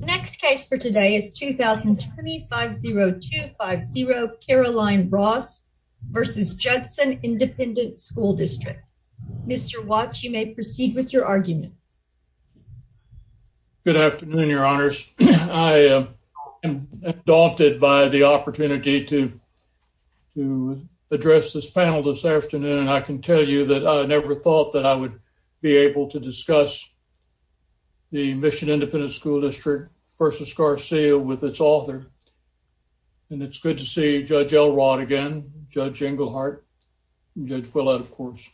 Next case for today is 2020-50250 Caroline Ross v. Judson Independent School District. Mr. Watts, you may proceed with your argument. Good afternoon, Your Honors. I am daunted by the opportunity to address this panel this afternoon. And I can tell you that I never thought that I would be able to discuss the Mission Independent School District v. Garcia with its author. And it's good to see Judge Elrod again, Judge Englehart, and Judge Willett, of course.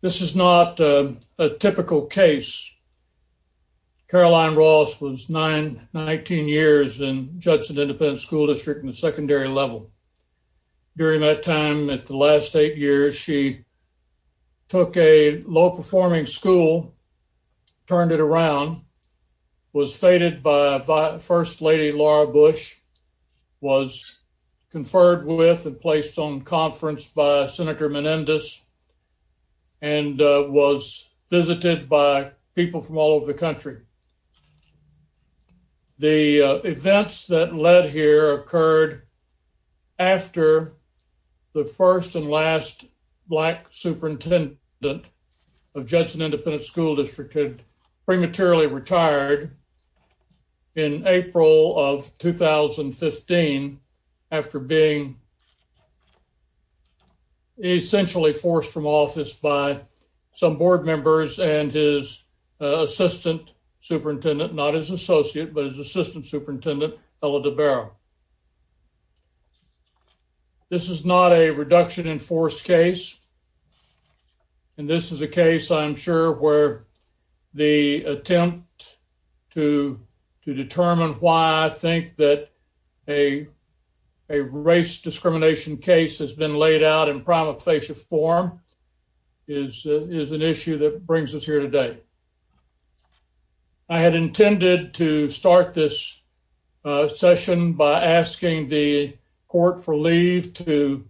This is not a typical case. Caroline Ross was 19 years in Judson Independent School District in the secondary level. During that time, at the last eight years, she took a low-performing school, turned it around, was feted by First Lady Laura Bush, was conferred with and placed on conference by Senator Menendez, and was visited by people from all over the country. The events that led here occurred after the first and last black superintendent of Judson Independent School District had prematurely retired in April of 2015, after being essentially forced from office by some board members and his assistant superintendent, not his associate, but his assistant superintendent, Ella DiBera. This is not a reduction-in-force case. And this is a case, I'm sure, where the attempt to determine why I think that a race discrimination case has been laid out in prima facie form is an issue that brings us here today. I had intended to start this session by asking the court for leave to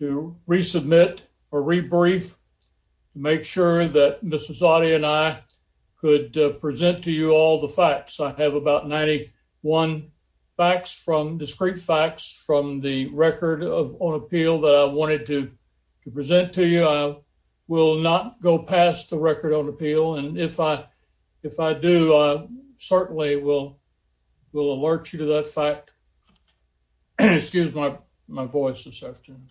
resubmit or rebrief, to make sure that Mrs. Otte and I could present to you all the facts. I have about 91 facts, discrete facts, from the record on appeal that I wanted to present to you. I hope that I will not go past the record on appeal, and if I do, I certainly will alert you to that fact. Excuse my voice this afternoon.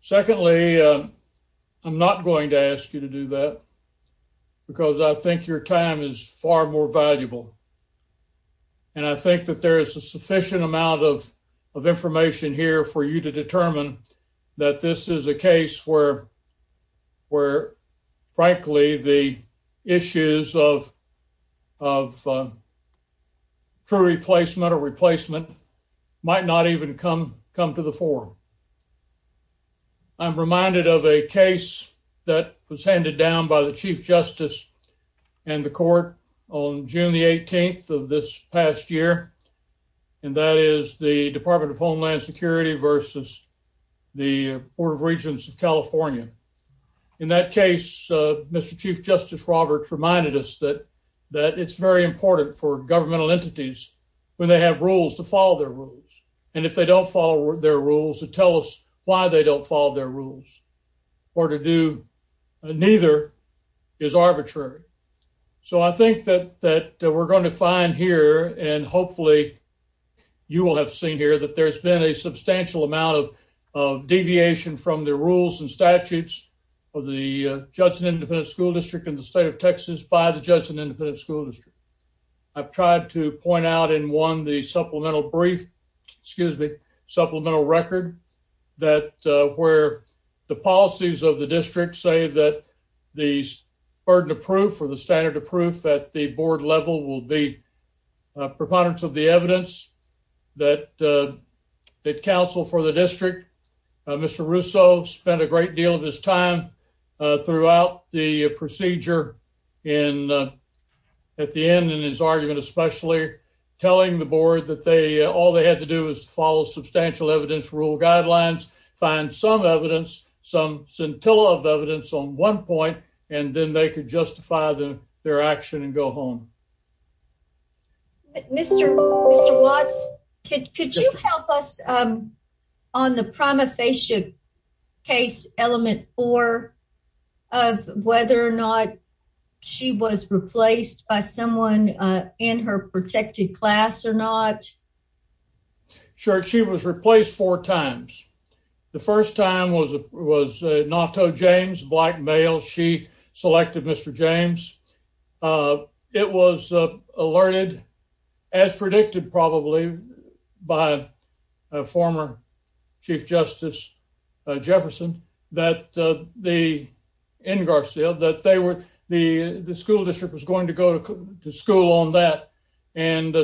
Secondly, I'm not going to ask you to do that, because I think your time is far more valuable. And I think that there is a sufficient amount of information here for you to determine that this is a case where, frankly, the issues of true replacement or replacement might not even come to the fore. I'm reminded of a case that was handed down by the Chief Justice and the court on June the 18th of this past year, and that is the Department of Homeland Security versus the Board of Regents of California. In that case, Mr. Chief Justice Roberts reminded us that it's very important for governmental entities, when they have rules, to follow their rules. And if they don't follow their rules, to tell us why they don't follow their rules, or to do neither, is arbitrary. So I think that we're going to find here, and hopefully you will have seen here, that there's been a substantial amount of deviation from the rules and statutes of the Judson Independent School District in the state of Texas by the Judson Independent School District. I've tried to point out in one of the supplemental briefs, excuse me, supplemental record, where the policies of the district say that the burden of proof or the standard of proof at the board level will be preponderance of the evidence that counsel for the district. Mr. Russo spent a great deal of his time throughout the procedure, and at the end in his argument especially, telling the board that all they had to do was follow substantial evidence rule guidelines, find some evidence, some scintilla of evidence on one point, and then they could justify their action and go home. Mr. Watts, could you help us on the prima facie case element four of whether or not she was replaced by someone in her protected class or not? Sure, she was replaced four times. The first time was Nato James, black male. She selected Mr. James. It was alerted, as predicted probably by a former Chief Justice Jefferson in Garcia, that the school district was going to go to school on that.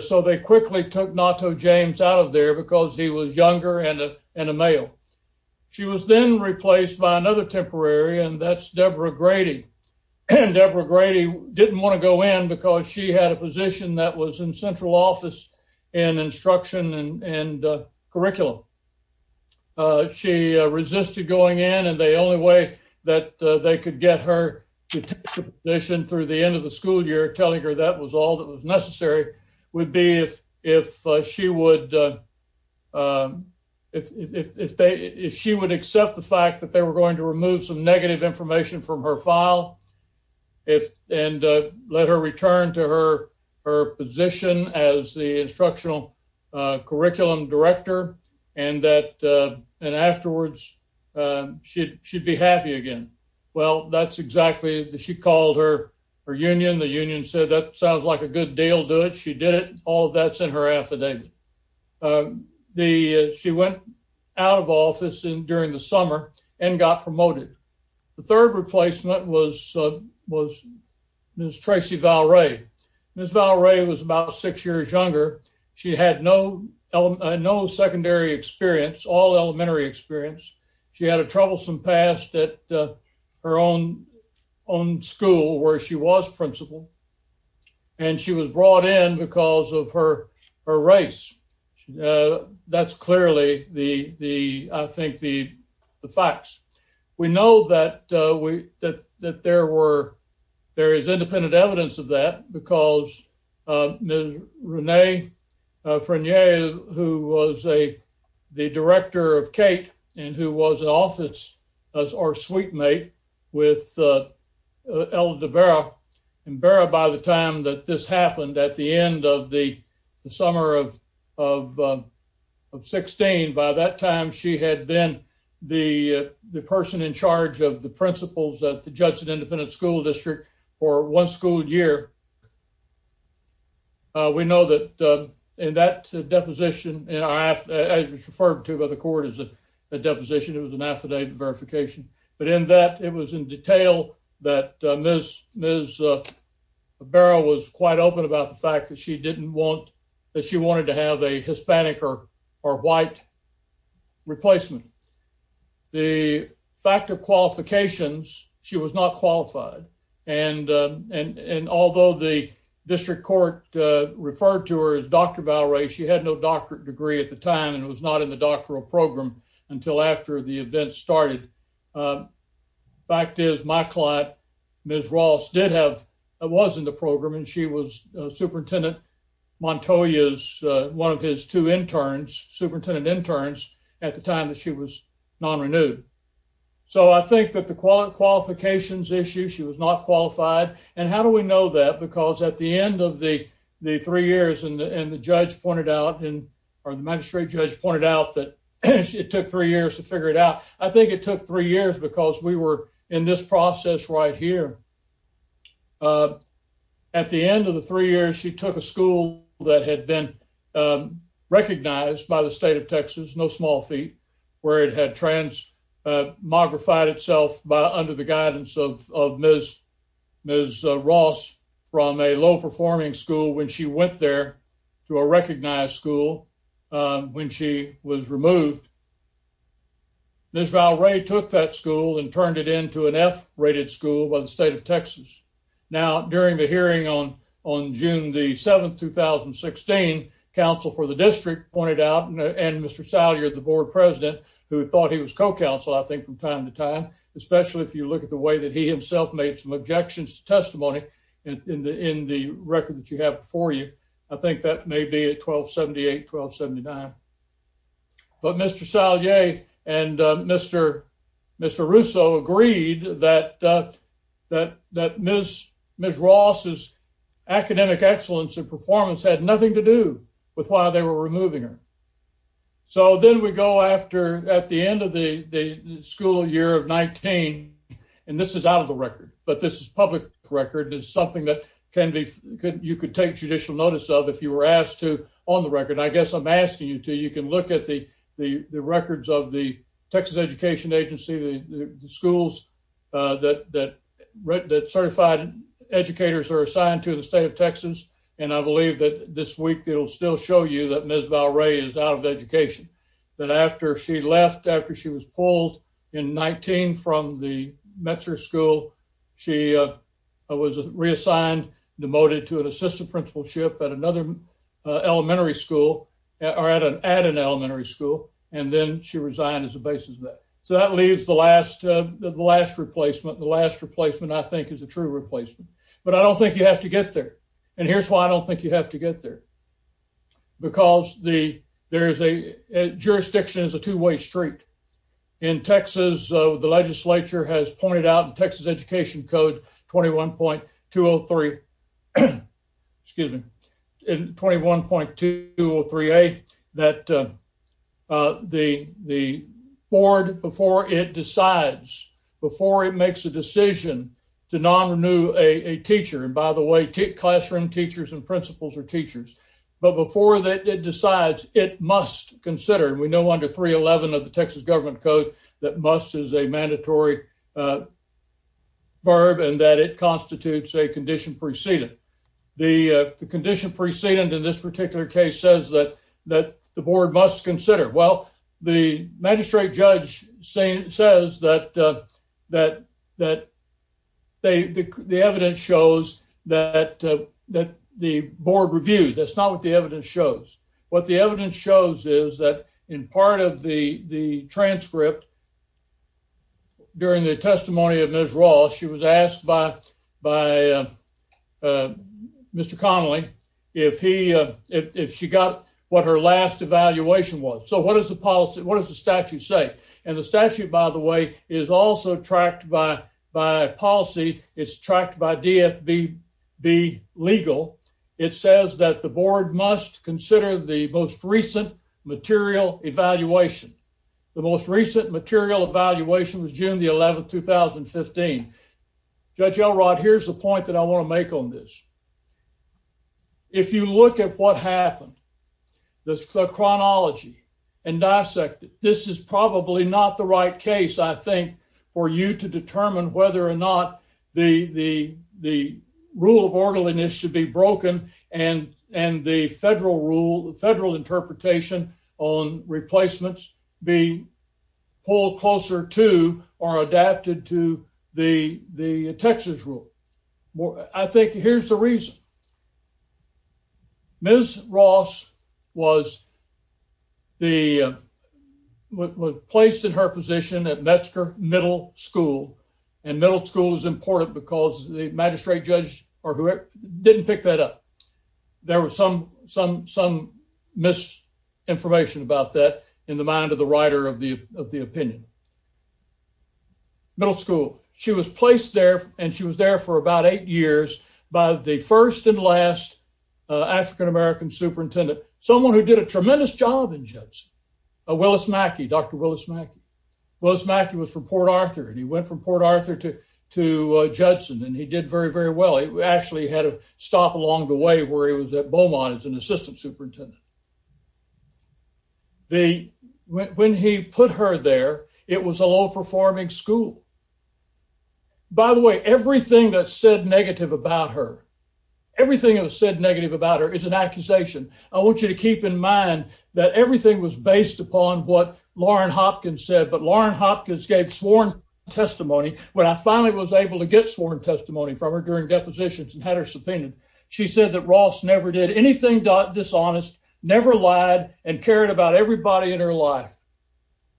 So they quickly took Nato James out of there because he was younger and a male. She was then replaced by another temporary, and that's Deborah Grady. Deborah Grady didn't want to go in because she had a position that was in central office in instruction and curriculum. She resisted going in, and the only way that they could get her to take the position through the end of the school year, telling her that was all that was necessary, would be if she would accept the fact that they were going to remove some negative information from her file, and let her return to her position as the Instructional Curriculum Director, and that afterwards she'd be happy again. Well, that's exactly what she called her union. The union said, that sounds like a good deal. Do it. She did it. All of that's in her affidavit. She went out of office during the summer and got promoted. The third replacement was Ms. Tracy Valray. Ms. Valray was about six years younger. She had no secondary experience, all elementary experience. She had a troublesome past at her own school where she was principal, and she was brought in because of her race. That's clearly, I think, the facts. We know that there is independent evidence of that because Ms. Renee Frenier, who was the director of CATE, and who was in office as our suite mate with Ella de Vera, and Vera, by the time that this happened at the end of the summer of 16, by that time she had been the person in charge of the principals at the Judson Independent School District for one school year. We know that in that deposition, as referred to by the court as a deposition, it was an affidavit verification. But in that, it was in detail that Ms. Vera was quite open about the fact that she wanted to have a Hispanic or white replacement. The fact of qualifications, she was not qualified. And although the district court referred to her as Dr. Valray, she had no doctorate degree at the time and was not in the doctoral program until after the event started. The fact is, my client, Ms. Ross, was in the program and she was Superintendent Montoya's, one of his two interns, superintendent interns, at the time that she was non-renewed. So I think that the qualifications issue, she was not qualified. And how do we know that? Because at the end of the three years, and the judge pointed out, or the magistrate judge pointed out that it took three years to figure it out, I think it took three years because we were in this process right here. At the end of the three years, she took a school that had been recognized by the state of Texas, no small feat, where it had transmogrified itself under the guidance of Ms. Ross from a low-performing school when she went there to a recognized school when she was removed. Ms. Valray took that school and turned it into an F-rated school by the state of Texas. Now, during the hearing on June the 7th, 2016, counsel for the district pointed out, and Mr. Salyer, the board president, who thought he was co-counsel, I think from time to time, especially if you look at the way that he himself made some objections to testimony in the record that you have before you, I think that may be at 1278, 1279. But Mr. Salyer and Mr. Russo agreed that Ms. Ross's academic excellence and performance had nothing to do with why they were removing her. So then we go after, at the end of the school year of 19, and this is out of the record, but this is public record. It's something that you could take judicial notice of if you were asked to on the record. I guess I'm asking you to. You can look at the records of the Texas Education Agency, the schools that certified educators are assigned to in the state of Texas, and I believe that this week it will still show you that Ms. Valray is out of education. That after she left, after she was pulled in 19 from the Metro school, she was reassigned, demoted to an assistant principalship at another elementary school, or at an elementary school, and then she resigned as the basis of that. So that leaves the last replacement. The last replacement, I think, is a true replacement. But I don't think you have to get there. And here's why I don't think you have to get there. Because the jurisdiction is a two-way street. In Texas, the legislature has pointed out in Texas Education Code 21.203A that the board, before it decides, before it makes a decision to non-renew a teacher, and by the way, classroom teachers and principals are teachers. But before it decides, it must consider, and we know under 311 of the Texas Government Code that must is a mandatory verb and that it constitutes a condition precedent. The condition precedent in this particular case says that the board must consider. Well, the magistrate judge says that the evidence shows that the board reviewed. That's not what the evidence shows. What the evidence shows is that in part of the transcript during the testimony of Ms. Ross, she was asked by Mr. Connelly if she got what her last evaluation was. So what does the statute say? And the statute, by the way, is also tracked by policy. It's tracked by DFB legal. It says that the board must consider the most recent material evaluation. The most recent material evaluation was June the 11th, 2015. Judge Elrod, here's the point that I want to make on this. If you look at what happened, the chronology and dissect it, this is probably not the right case, I think, for you to determine whether or not the rule of orderliness should be broken and the federal rule, the federal interpretation on replacements be pulled closer to or adapted to the Texas rule. I think here's the reason. Ms. Ross was placed in her position at Metzger Middle School, and middle school is important because the magistrate judge didn't pick that up. There was some misinformation about that in the mind of the writer of the opinion. Middle school, she was placed there, and she was there for about eight years by the first and last African American superintendent, someone who did a tremendous job in Judson, Willis Mackey, Dr. Willis Mackey. Willis Mackey was from Port Arthur, and he went from Port Arthur to Judson, and he did very, very well. He actually had a stop along the way where he was at Beaumont as an assistant superintendent. When he put her there, it was a low-performing school. By the way, everything that said negative about her, everything that was said negative about her is an accusation. I want you to keep in mind that everything was based upon what Lauren Hopkins said, but Lauren Hopkins gave sworn testimony when I finally was able to get sworn testimony from her during depositions and had her subpoenaed. She said that Ross never did anything dishonest, never lied, and cared about everybody in her life.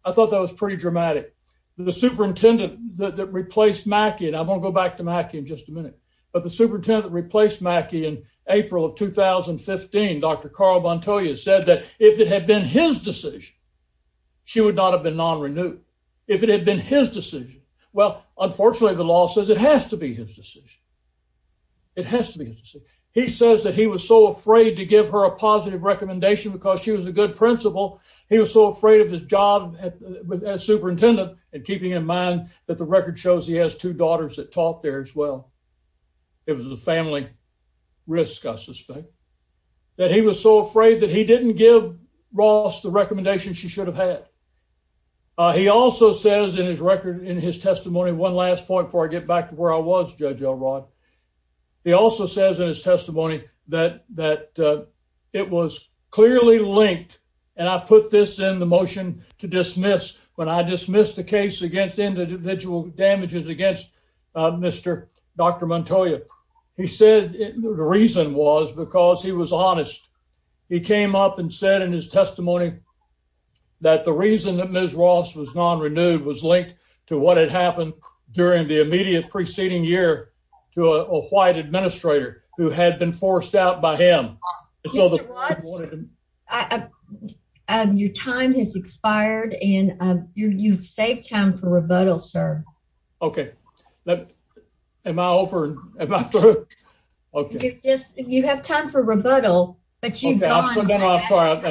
I thought that was pretty dramatic. The superintendent that replaced Mackey, and I'm going to go back to Mackey in just a minute, but the superintendent that replaced Mackey in April of 2015, Dr. Carl Montoya, said that if it had been his decision, she would not have been non-renewed. Well, unfortunately, the law says it has to be his decision. It has to be his decision. He says that he was so afraid to give her a positive recommendation because she was a good principal, he was so afraid of his job as superintendent, and keeping in mind that the record shows he has two daughters that taught there as well. It was a family risk, I suspect, that he was so afraid that he didn't give Ross the recommendation she should have had. He also says in his record, in his testimony, one last point before I get back to where I was, Judge Elrod. He also says in his testimony that it was clearly linked, and I put this in the motion to dismiss when I dismissed the case against individual damages against Dr. Montoya. He said the reason was because he was honest. He came up and said in his testimony that the reason that Ms. Ross was non-renewed was linked to what had happened during the immediate preceding year to a white administrator who had been forced out by him. Mr. Watts, your time has expired, and you've saved time for rebuttal, sir. Okay, am I over? Yes, you have time for rebuttal, but you've gone. I'm sorry, I've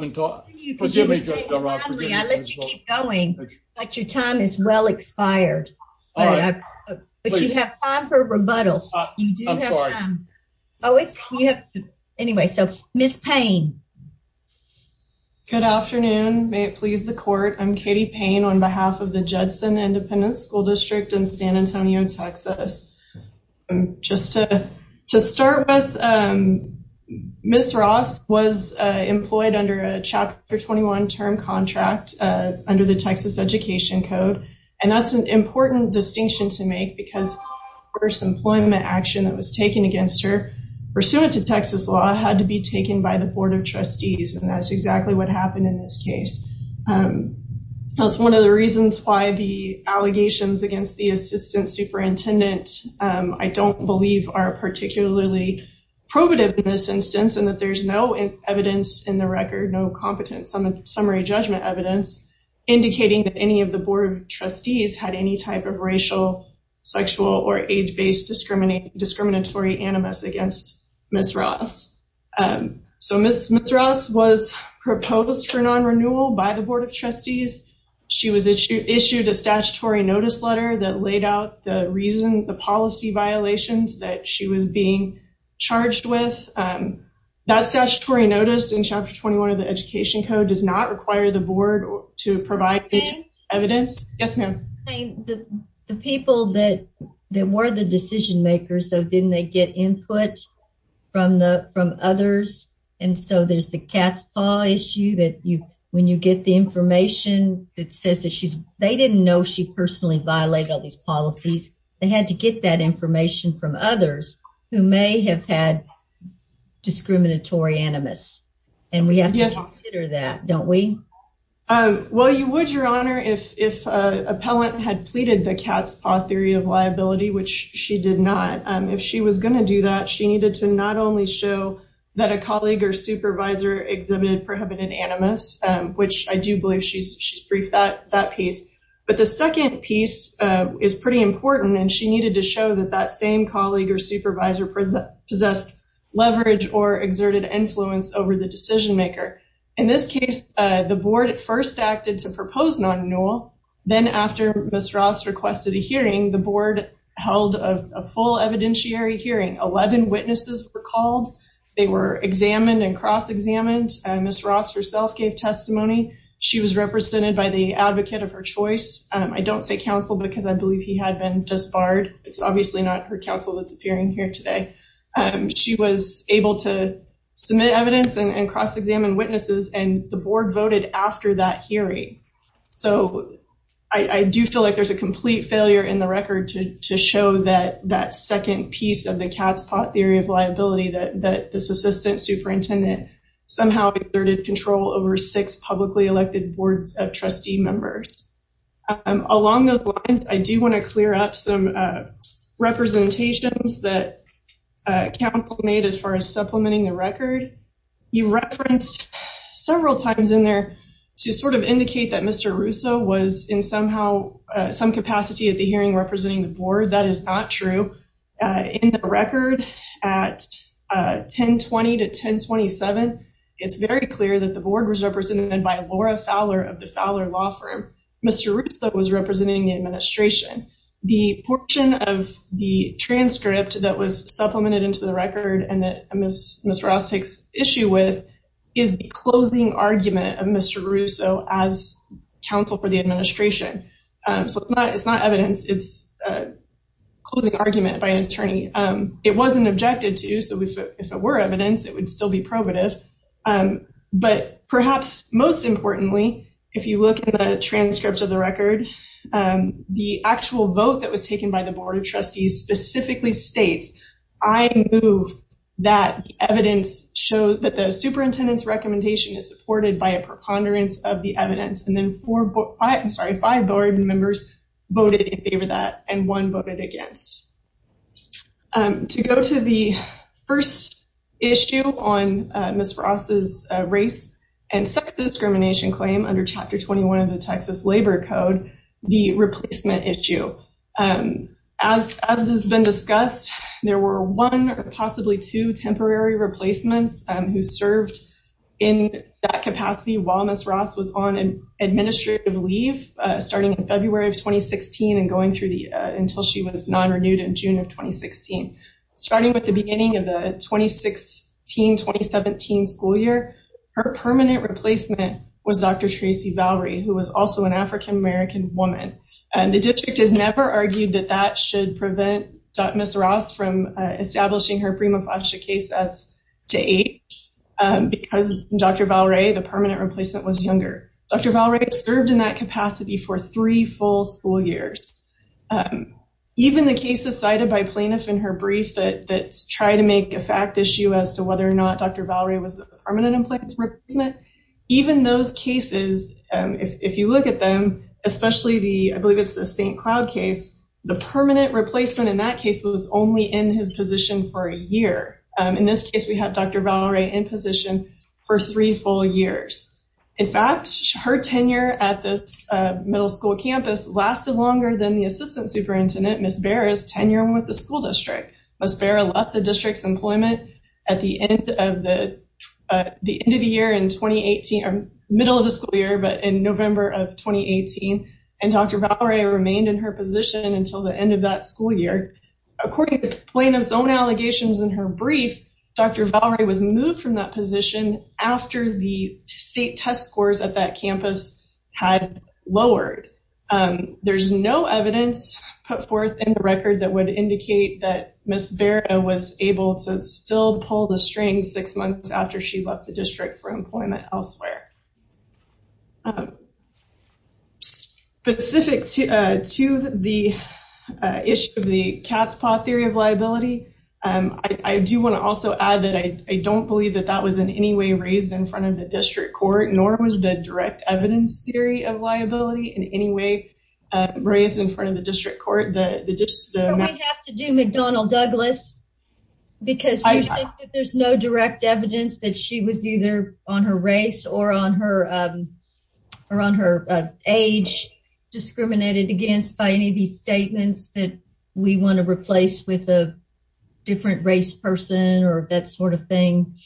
been talking. I let you keep going, but your time is well expired. All right. But you have time for rebuttal. I'm sorry. Anyway, so, Ms. Payne. Good afternoon. May it please the court. I'm Katie Payne on behalf of the Judson Independent School District in San Antonio, Texas. Just to start with, Ms. Ross was employed under a Chapter 21 term contract under the Texas Education Code, and that's an important distinction to make because the first employment action that was taken against her pursuant to Texas law had to be taken by the Board of Trustees, and that's exactly what happened in this case. That's one of the reasons why the allegations against the assistant superintendent I don't believe are particularly probative in this instance, and that there's no evidence in the record, no competent summary judgment evidence indicating that any of the Board of Trustees had any type of racial, sexual, or age-based discriminatory animus against Ms. Ross. So, Ms. Ross was proposed for non-renewal by the Board of Trustees. She was issued a statutory notice letter that laid out the reason the policy violations that she was being charged with. That statutory notice in Chapter 21 of the Education Code does not require the Board to provide evidence. Yes, ma'am. The people that were the decision makers, though, didn't they get input from others? And so, there's the cat's paw issue that when you get the information that says that they didn't know she personally violated all these policies. They had to get that information from others who may have had discriminatory animus, and we have to consider that, don't we? Well, you would, Your Honor, if an appellant had pleaded the cat's paw theory of liability, which she did not. If she was going to do that, she needed to not only show that a colleague or supervisor exhibited prohibited animus, which I do believe she's briefed that piece. But the second piece is pretty important, and she needed to show that that same colleague or supervisor possessed leverage or exerted influence over the decision maker. In this case, the Board first acted to propose non-renewal. Then, after Ms. Ross requested a hearing, the Board held a full evidentiary hearing. Eleven witnesses were called. They were examined and cross-examined. Ms. Ross herself gave testimony. She was represented by the advocate of her choice. I don't say counsel because I believe he had been disbarred. It's obviously not her counsel that's appearing here today. She was able to submit evidence and cross-examine witnesses, and the Board voted after that hearing. So I do feel like there's a complete failure in the record to show that second piece of the cat's paw theory of liability, that this assistant superintendent somehow exerted control over six publicly elected Board of Trustee members. Along those lines, I do want to clear up some representations that counsel made as far as supplementing the record. You referenced several times in there to sort of indicate that Mr. Russo was in somehow some capacity at the hearing representing the Board. That is not true. In the record at 10.20 to 10.27, it's very clear that the Board was represented by Laura Fowler of the Fowler Law Firm. Mr. Russo was representing the administration. The portion of the transcript that was supplemented into the record and that Ms. Ross takes issue with is the closing argument of Mr. Russo as counsel for the administration. So it's not evidence. It's a closing argument by an attorney. It wasn't objected to, so if it were evidence, it would still be probative. But perhaps most importantly, if you look at the transcript of the record, the actual vote that was taken by the Board of Trustees specifically states, I move that the evidence shows that the superintendent's recommendation is supported by a preponderance of the evidence. And then five Board members voted in favor of that and one voted against. To go to the first issue on Ms. Ross's race and sex discrimination claim under Chapter 21 of the Texas Labor Code, the replacement issue. As has been discussed, there were one or possibly two temporary replacements who served in that capacity while Ms. Ross was on administrative leave, starting in February of 2016 and going through until she was non-renewed in June of 2016. Starting with the beginning of the 2016-2017 school year, her permanent replacement was Dr. Tracy Valery, who was also an African American woman. The district has never argued that that should prevent Ms. Ross from establishing her prima facie case as to age, because Dr. Valery, the permanent replacement, was younger. Dr. Valery served in that capacity for three full school years. Even the cases cited by plaintiffs in her brief that try to make a fact issue as to whether or not Dr. Valery was a permanent replacement, even those cases, if you look at them, especially the, I believe it's the St. Cloud case, the permanent replacement in that case was only in his position for a year. In this case, we have Dr. Valery in position for three full years. In fact, her tenure at this middle school campus lasted longer than the assistant superintendent, Ms. Barra's, tenure with the school district. Ms. Barra left the district's employment at the end of the year in 2018, or middle of the school year, but in November of 2018, and Dr. Valery remained in her position until the end of that school year. According to plaintiff's own allegations in her brief, Dr. Valery was moved from that position after the state test scores at that campus had lowered. There's no evidence put forth in the record that would indicate that Ms. Barra was able to still pull the string six months after she left the district for employment elsewhere. Specific to the issue of the cat's paw theory of liability, I do want to also add that I don't believe that that was in any way raised in front of the district court, nor was the direct evidence theory of liability in any way raised in front of the district court. We have to do McDonnell Douglas, because there's no direct evidence that she was either on her race or on her age, discriminated against by any of these statements that we want to replace with a different race person or that sort of thing.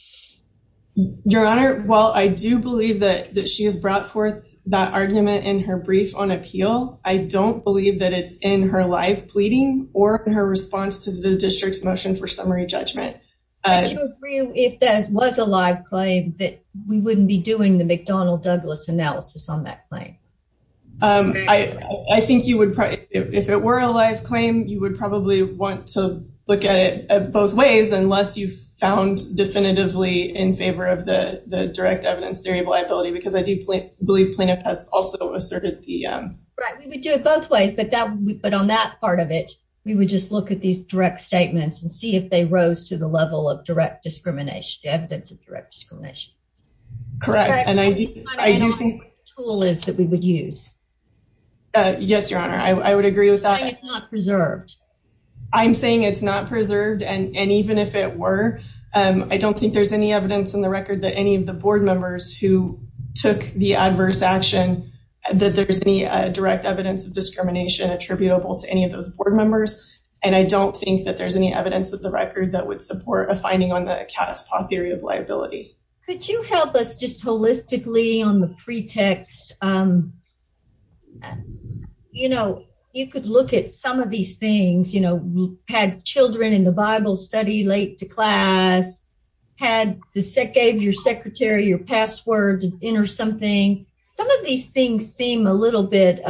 Your Honor, while I do believe that she has brought forth that argument in her brief on appeal, I don't believe that it's in her live pleading or in her response to the district's motion for summary judgment. Would you agree if there was a live claim that we wouldn't be doing the McDonnell Douglas analysis on that claim? I think you would, if it were a live claim, you would probably want to look at it both ways, unless you found definitively in favor of the direct evidence theory of liability, because I do believe plaintiff has also asserted the. Right, we would do it both ways, but on that part of it, we would just look at these direct statements and see if they rose to the level of direct discrimination, evidence of direct discrimination. Correct, and I do think. I don't know what tool it is that we would use. Yes, Your Honor, I would agree with that. I'm saying it's not preserved. I'm saying it's not preserved, and even if it were, I don't think there's any evidence in the record that any of the board members who took the adverse action, that there's any direct evidence of discrimination attributable to any of those board members. And I don't think that there's any evidence of the record that would support a finding on the Katzpah theory of liability. Could you help us just holistically on the pretext, you know, you could look at some of these things, you know, had children in the Bible study late to class, gave your secretary your password to enter something. Some of these things seem a little bit,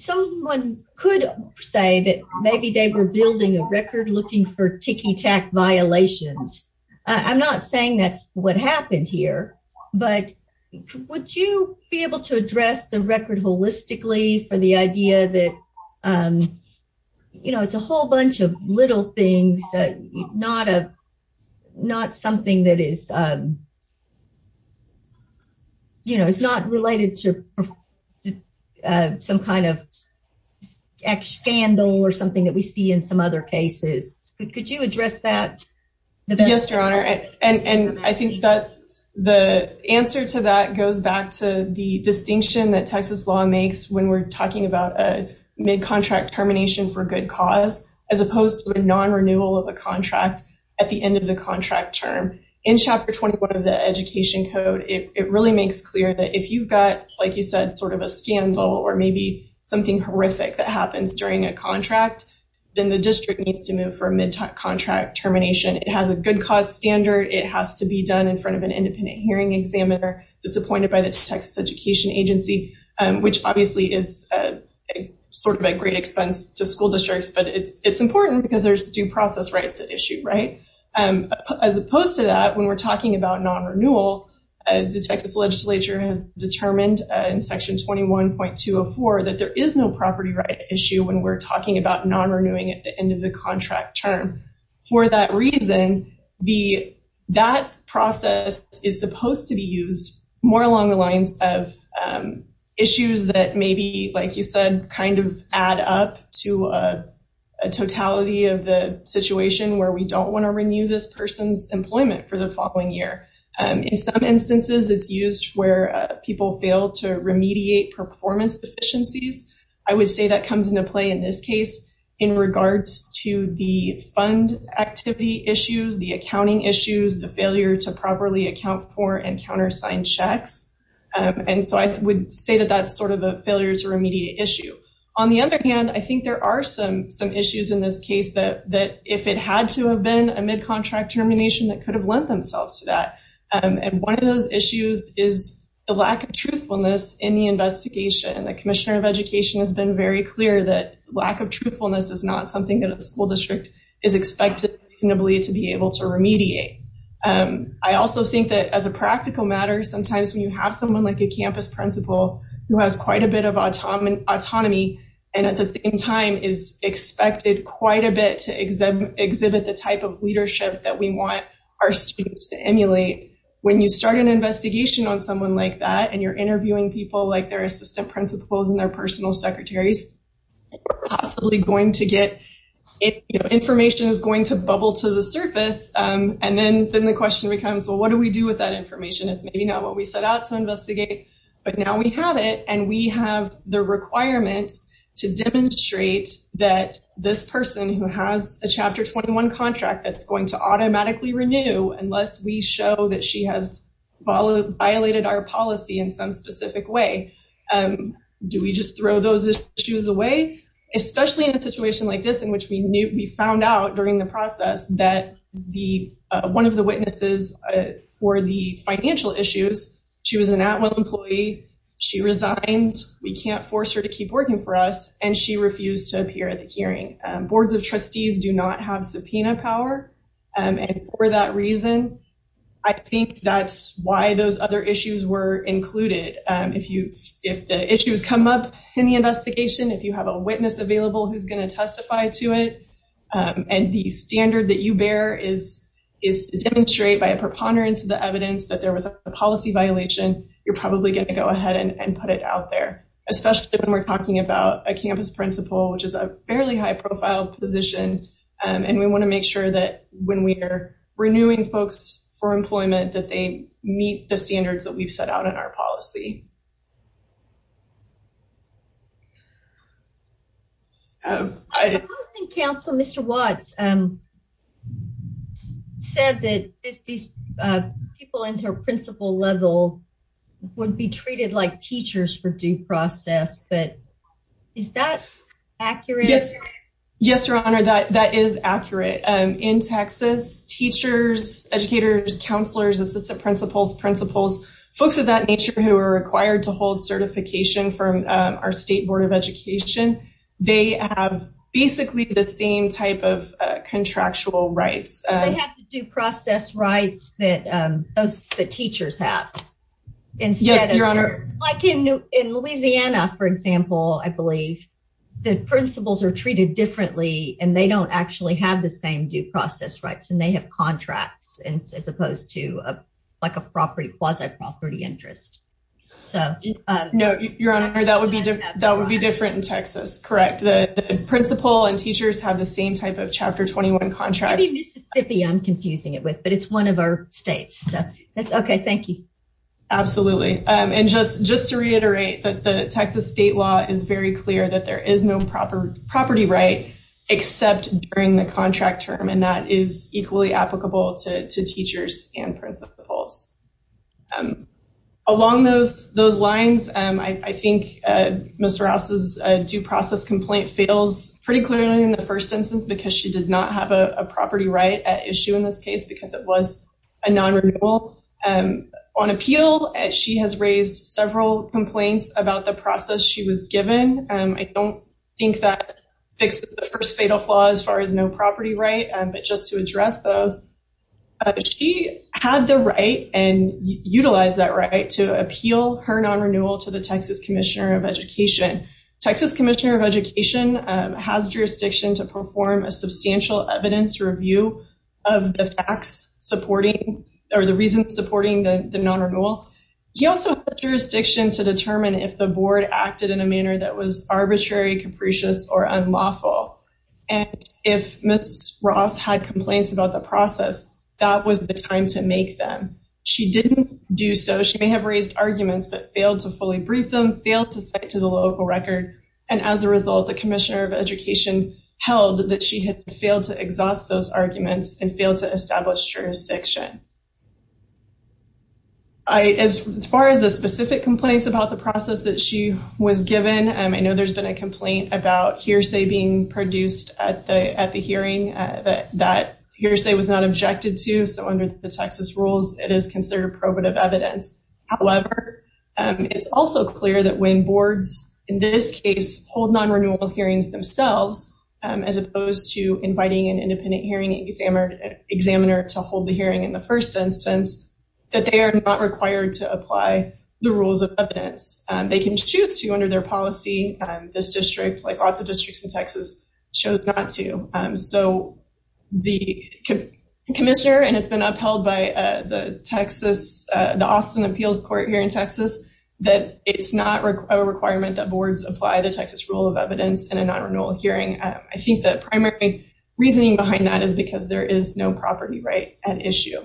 someone could say that maybe they were building a record looking for ticky-tack violations. I'm not saying that's what happened here, but would you be able to address the record holistically for the idea that, you know, it's a whole bunch of little things, not something that is, you know, it's not related to some kind of scandal or something that we see in some other cases. Could you address that? Yes, Your Honor, and I think that the answer to that goes back to the distinction that Texas law makes when we're talking about a mid-contract termination for good cause, as opposed to a non-renewal of a contract at the end of the contract term. In Chapter 21 of the Education Code, it really makes clear that if you've got, like you said, sort of a scandal or maybe something horrific that happens during a contract, then the district needs to move for a mid-contract termination. It has a good cause standard. It has to be done in front of an independent hearing examiner that's appointed by the Texas Education Agency, which obviously is sort of a great expense to school districts, but it's important because there's due process rights at issue, right? As opposed to that, when we're talking about non-renewal, the Texas legislature has determined in Section 21.204 that there is no property right at issue when we're talking about non-renewing at the end of the contract term. For that reason, that process is supposed to be used more along the lines of issues that maybe, like you said, kind of add up to a totality of the situation where we don't want to renew this person's employment for the following year. In some instances, it's used where people fail to remediate performance deficiencies. I would say that comes into play in this case in regards to the fund activity issues, the accounting issues, the failure to properly account for and countersign checks. I would say that that's sort of a failure to remediate issue. On the other hand, I think there are some issues in this case that if it had to have been a mid-contract termination that could have lent themselves to that. One of those issues is the lack of truthfulness in the investigation. The Commissioner of Education has been very clear that lack of truthfulness is not something that a school district is expected reasonably to be able to remediate. I also think that as a practical matter, sometimes when you have someone like a campus principal who has quite a bit of autonomy and at the same time is expected quite a bit to exhibit the type of leadership that we want our students to emulate, when you start an investigation on someone like that and you're interviewing people like their assistant principals and their personal secretaries, information is going to bubble to the surface. Then the question becomes, well, what do we do with that information? It's maybe not what we set out to investigate. But now we have it, and we have the requirement to demonstrate that this person who has a Chapter 21 contract that's going to automatically renew unless we show that she has violated our policy in some specific way. Do we just throw those issues away? Especially in a situation like this, in which we found out during the process that one of the witnesses for the financial issues, she was an Atwell employee, she resigned, we can't force her to keep working for us, and she refused to appear at the hearing. Boards of trustees do not have subpoena power, and for that reason, I think that's why those other issues were included. If the issues come up in the investigation, if you have a witness available who's going to testify to it, and the standard that you bear is to demonstrate by a preponderance of the evidence that there was a policy violation, you're probably going to go ahead and put it out there. Especially when we're talking about a campus principal, which is a fairly high-profile position, and we want to make sure that when we are renewing folks for employment, that they meet the standards that we've set out in our policy. I don't think counsel, Mr. Watts, said that if these people enter principal level, would be treated like teachers for due process, but is that accurate? Yes, your honor, that is accurate. In Texas, teachers, educators, counselors, assistant principals, principals, folks of that nature who are required to hold certification from our state board of education, they have basically the same type of contractual rights. They have the due process rights that teachers have. In Louisiana, for example, I believe, the principals are treated differently, and they don't actually have the same due process rights, and they have contracts as opposed to a quasi-property interest. No, your honor, that would be different in Texas, correct? The principal and teachers have the same type of Chapter 21 contract. Maybe Mississippi, I'm confusing it with, but it's one of our states. Okay, thank you. Absolutely. And just to reiterate, the Texas state law is very clear that there is no property right except during the contract term, and that is equally applicable to teachers and principals. Along those lines, I think Ms. Rouse's due process complaint fails pretty clearly in the first instance, because she did not have a property right at issue in this case, because it was a non-renewal. On appeal, she has raised several complaints about the process she was given. I don't think that fixes the first fatal flaw as far as no property right, but just to address those, she had the right and utilized that right to appeal her non-renewal to the Texas Commissioner of Education. Texas Commissioner of Education has jurisdiction to perform a substantial evidence review of the reasons supporting the non-renewal. He also has jurisdiction to determine if the board acted in a manner that was arbitrary, capricious, or unlawful. And if Ms. Rouse had complaints about the process, that was the time to make them. She didn't do so. She may have raised arguments, but failed to fully brief them, failed to cite to the local record. And as a result, the Commissioner of Education held that she had failed to exhaust those arguments and failed to establish jurisdiction. As far as the specific complaints about the process that she was given, I know there's been a complaint about hearsay being produced at the hearing, that hearsay was not objected to. So under the Texas rules, it is considered probative evidence. However, it's also clear that when boards, in this case, hold non-renewal hearings themselves, as opposed to inviting an independent hearing examiner to hold the hearing in the first instance, that they are not required to apply the rules of evidence. They can choose to under their policy. This district, like lots of districts in Texas, chose not to. So the Commissioner, and it's been upheld by the Texas, the Austin Appeals Court here in Texas, that it's not a requirement that boards apply the Texas rule of evidence in a non-renewal hearing. I think the primary reasoning behind that is because there is no property right at issue.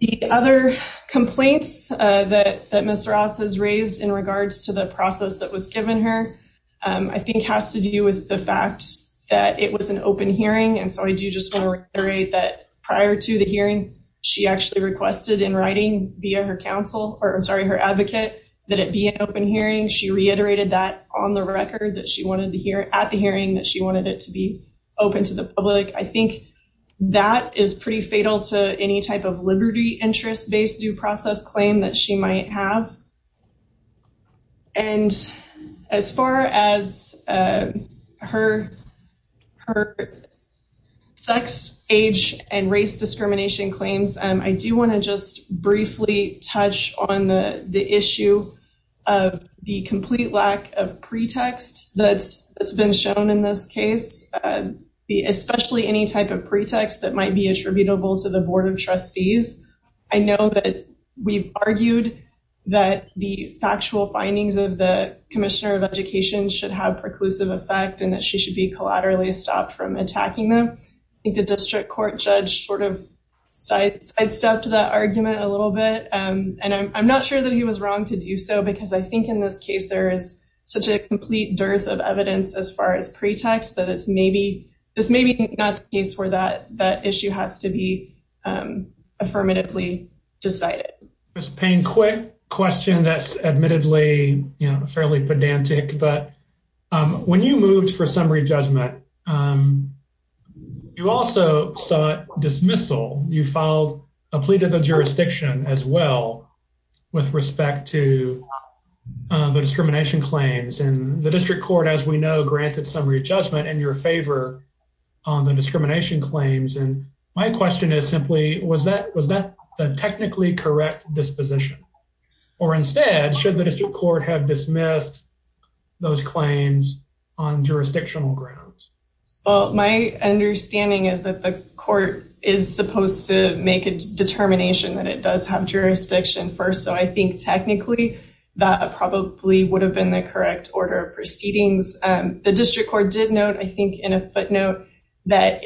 The other complaints that Ms. Ross has raised in regards to the process that was given her, I think has to do with the fact that it was an open hearing. And so I do just want to reiterate that prior to the hearing, she actually requested in writing via her counsel, or I'm sorry, her advocate, that it be an open hearing. She reiterated that on the record that she wanted to hear at the hearing, that she wanted it to be open to the public. I think that is pretty fatal to any type of liberty interest based due process claim that she might have. And as far as her sex, age, and race discrimination claims, I do want to just briefly touch on the issue of the complete lack of pretext that's been shown in this case. Especially any type of pretext that might be attributable to the Board of Trustees. I know that we've argued that the factual findings of the Commissioner of Education should have preclusive effect and that she should be collaterally stopped from attacking them. I think the district court judge sort of sidestepped that argument a little bit. And I'm not sure that he was wrong to do so, because I think in this case there is such a complete dearth of evidence as far as pretext that this may be not the case where that issue has to be affirmatively decided. Ms. Payne, quick question that's admittedly fairly pedantic, but when you moved for summary judgment, you also sought dismissal. You filed a plea to the jurisdiction as well with respect to the discrimination claims. And the district court, as we know, granted summary judgment in your favor on the discrimination claims. And my question is simply, was that technically correct disposition? Or instead, should the district court have dismissed those claims on jurisdictional grounds? Well, my understanding is that the court is supposed to make a determination that it does have jurisdiction first. So I think technically that probably would have been the correct order of proceedings. The district court did note, I think, in a footnote that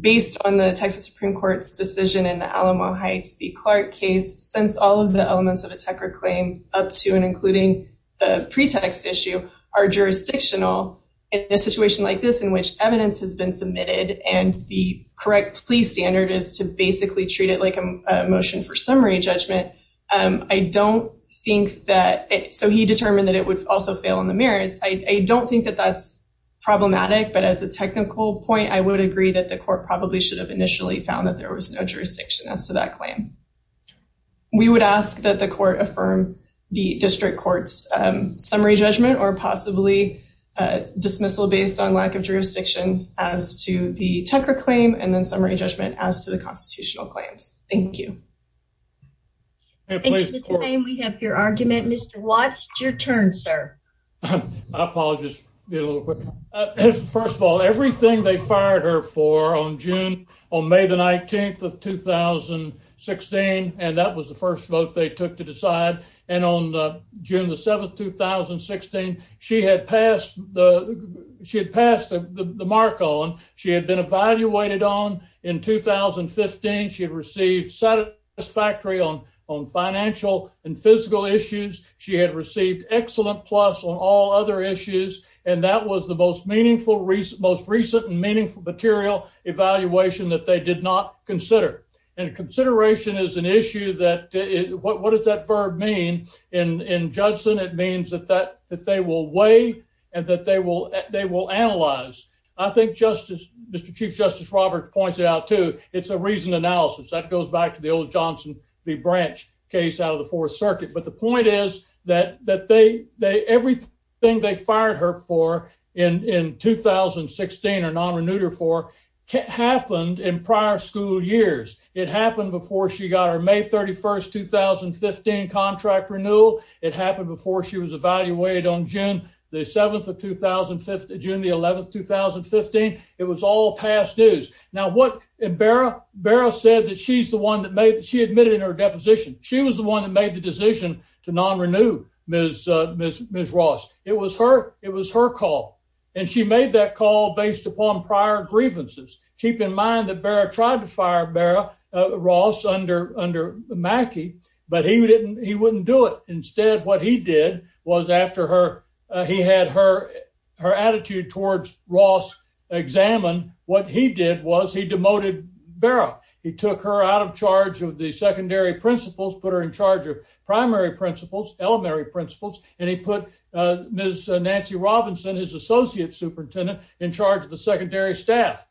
based on the Texas Supreme Court's decision in the Alamo Heights v. Clark case, since all of the elements of a Tucker claim up to and including the pretext issue are jurisdictional in a situation like this in which evidence has been submitted and the correct plea standard is to basically treat it like a motion for summary judgment, I don't think that so he determined that it would also fail in the merits. I don't think that that's problematic. But as a technical point, I would agree that the court probably should have initially found that there was no jurisdiction as to that claim. We would ask that the court affirm the district court's summary judgment or possibly dismissal based on lack of jurisdiction as to the Tucker claim and then summary judgment as to the constitutional claims. Thank you. We have your argument, Mr. Watts, your turn, sir. I apologize. First of all, everything they fired her for on June or May the 19th of 2016. And that was the first vote they took to decide. And on June the 7th, 2016, she had passed the she had passed the mark on. She had been evaluated on in 2015. She had received satisfactory on on financial and physical issues. She had received excellent plus on all other issues. And that was the most meaningful, most recent and meaningful material evaluation that they did not consider. And consideration is an issue that what does that verb mean in Judson? It means that that that they will weigh and that they will they will analyze. I think just as Mr. Chief Justice Robert points out, too, it's a reasoned analysis that goes back to the old Johnson, the branch case out of the Fourth Circuit. But the point is that that they they everything they fired her for in 2016 or non-renewed or for happened in prior school years. It happened before she got her May 31st, 2015 contract renewal. It happened before she was evaluated on June the 7th of 2015, June the 11th, 2015. It was all past news. Now, what Barrow Barrow said that she's the one that made she admitted in her deposition. She was the one that made the decision to non-renew Ms. Ms. Ross. It was her it was her call. And she made that call based upon prior grievances. Keep in mind that Barrow tried to fire Barrow Ross under under Mackey, but he didn't he wouldn't do it. Instead, what he did was after her, he had her her attitude towards Ross examined. What he did was he demoted Barrow. He took her out of charge of the secondary principles, put her in charge of primary principles, elementary principles. And he put Ms. Nancy Robinson, his associate superintendent, in charge of the secondary staff.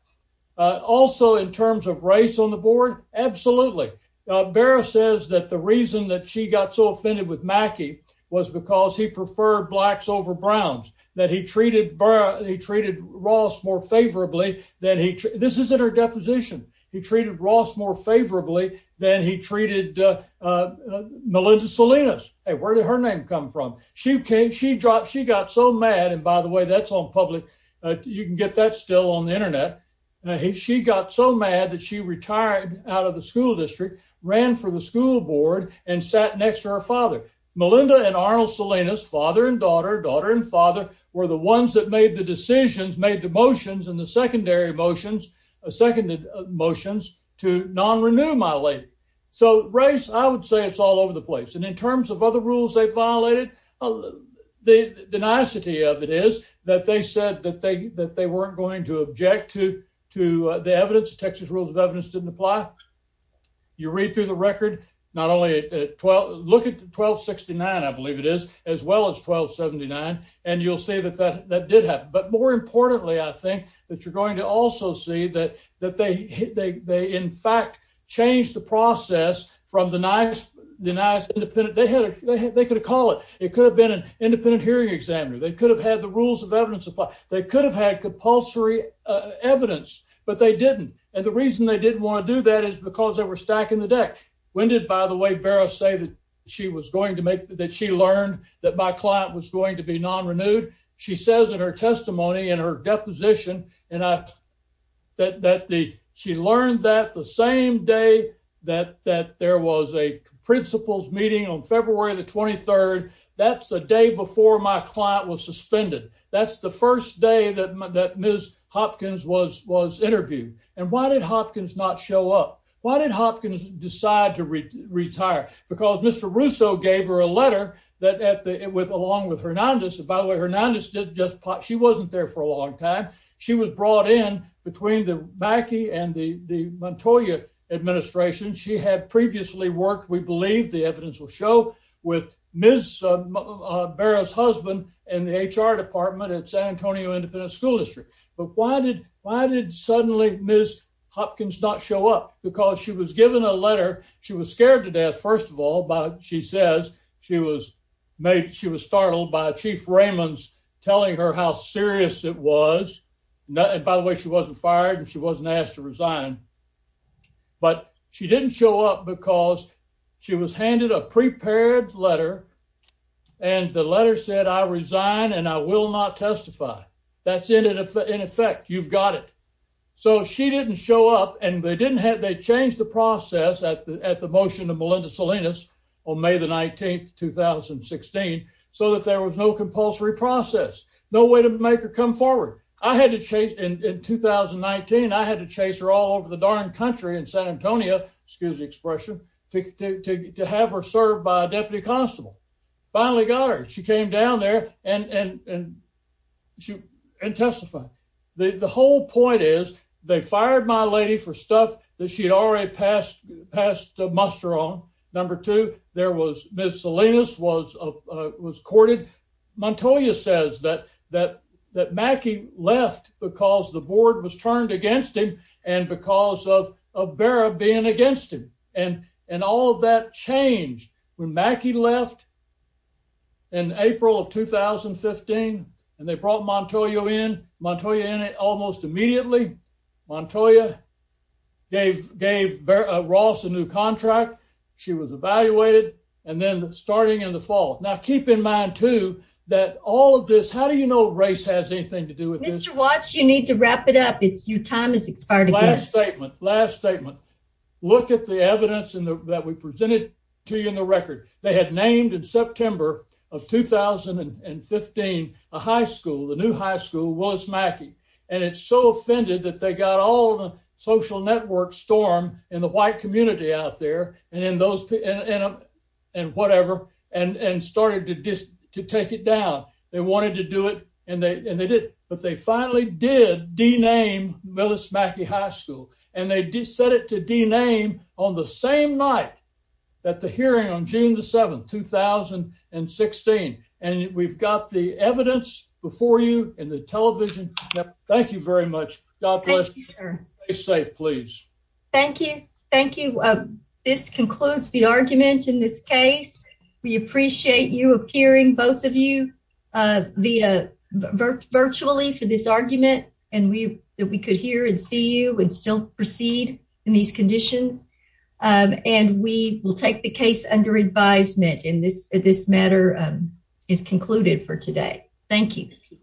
Also, in terms of race on the board, absolutely. Barrow says that the reason that she got so offended with Mackey was because he preferred blacks over browns, that he treated he treated Ross more favorably than he. This is in her deposition. He treated Ross more favorably than he treated Melinda Salinas. Hey, where did her name come from? She came. She dropped. She got so mad. And by the way, that's all public. You can get that still on the Internet. She got so mad that she retired out of the school district, ran for the school board and sat next to her father. Melinda and Arnold Salinas, father and daughter, daughter and father, were the ones that made the decisions, made the motions and the secondary motions, second motions to non-renew my lady. So race, I would say it's all over the place. And in terms of other rules, they violated the nicety of it is that they said that they that they weren't going to object to to the evidence. Texas rules of evidence didn't apply. You read through the record, not only 12, look at 1269, I believe it is as well as 1279. And you'll see that that did happen. But more importantly, I think that you're going to also see that that they they in fact changed the process from the nice, nice independent. They had they could call it. It could have been an independent hearing examiner. They could have had the rules of evidence. They could have had compulsory evidence, but they didn't. And the reason they didn't want to do that is because they were stacking the deck. When did, by the way, Barrow say that she was going to make that she learned that my client was going to be non renewed. She says in her testimony and her deposition and that she learned that the same day that that there was a principal's meeting on February the 23rd. That's a day before my client was suspended. That's the first day that that Ms. Hopkins was was interviewed. And why did Hopkins not show up. Why did Hopkins decide to retire, because Mr. Russo gave her a letter that at the with along with Hernandez. And by the way, Hernandez did just pop. She wasn't there for a long time. She was brought in between the Mackey and the Montoya administration. She had previously worked, we believe the evidence will show with Ms. Barrow's husband in the HR department at San Antonio Independent School District. But why did, why did suddenly Ms. Hopkins not show up because she was given a letter, she was scared to death. First of all, but she says she was made she was startled by Chief Raymond's telling her how serious it was. And by the way, she wasn't fired and she wasn't asked to resign. But she didn't show up because she was handed a prepared letter. And the letter said I resign and I will not testify. That's in effect, you've got it. So she didn't show up and they didn't have they changed the process at the at the motion of Melinda Salinas on May the 19th, 2016, so that there was no compulsory process, no way to make her come forward. I had to chase in 2019 I had to chase her all over the darn country in San Antonio, excuse the expression, to have her served by a deputy constable. Finally got her. She came down there and she testified. The whole point is they fired my lady for stuff that she had already passed, passed the muster on. Number two, there was Ms. Salinas was was courted. Montoya says that that that Mackey left because the board was turned against him. And because of a bear being against him. And, and all that changed when Mackey left in April of 2015, and they brought Montoya in Montoya in almost immediately. Montoya gave gave Ross a new contract. She was evaluated, and then starting in the fall. Now keep in mind to that all of this. How do you know race has anything to do with Mr. Watts, you need to wrap it up it's your time is expired. Last statement, last statement. Look at the evidence in the that we presented to you in the record, they had named in September of 2015, a high school the new high school was Mackey, and it's so offended that they got all the social network storm in the white community out there, and in those. And whatever, and and started to just to take it down. They wanted to do it, and they didn't, but they finally did D name Melis Mackey high school, and they just set it to D name on the same night that the hearing on June the 7th, 2016, and we've got the evidence before you in the television. Thank you very much. Thank you, sir. Please. Thank you. Thank you. This concludes the argument in this case, we appreciate you appearing both of you. virtually for this argument, and we that we could hear and see you and still proceed in these conditions, and we will take the case under advisement in this, this matter is concluded for today. Thank you.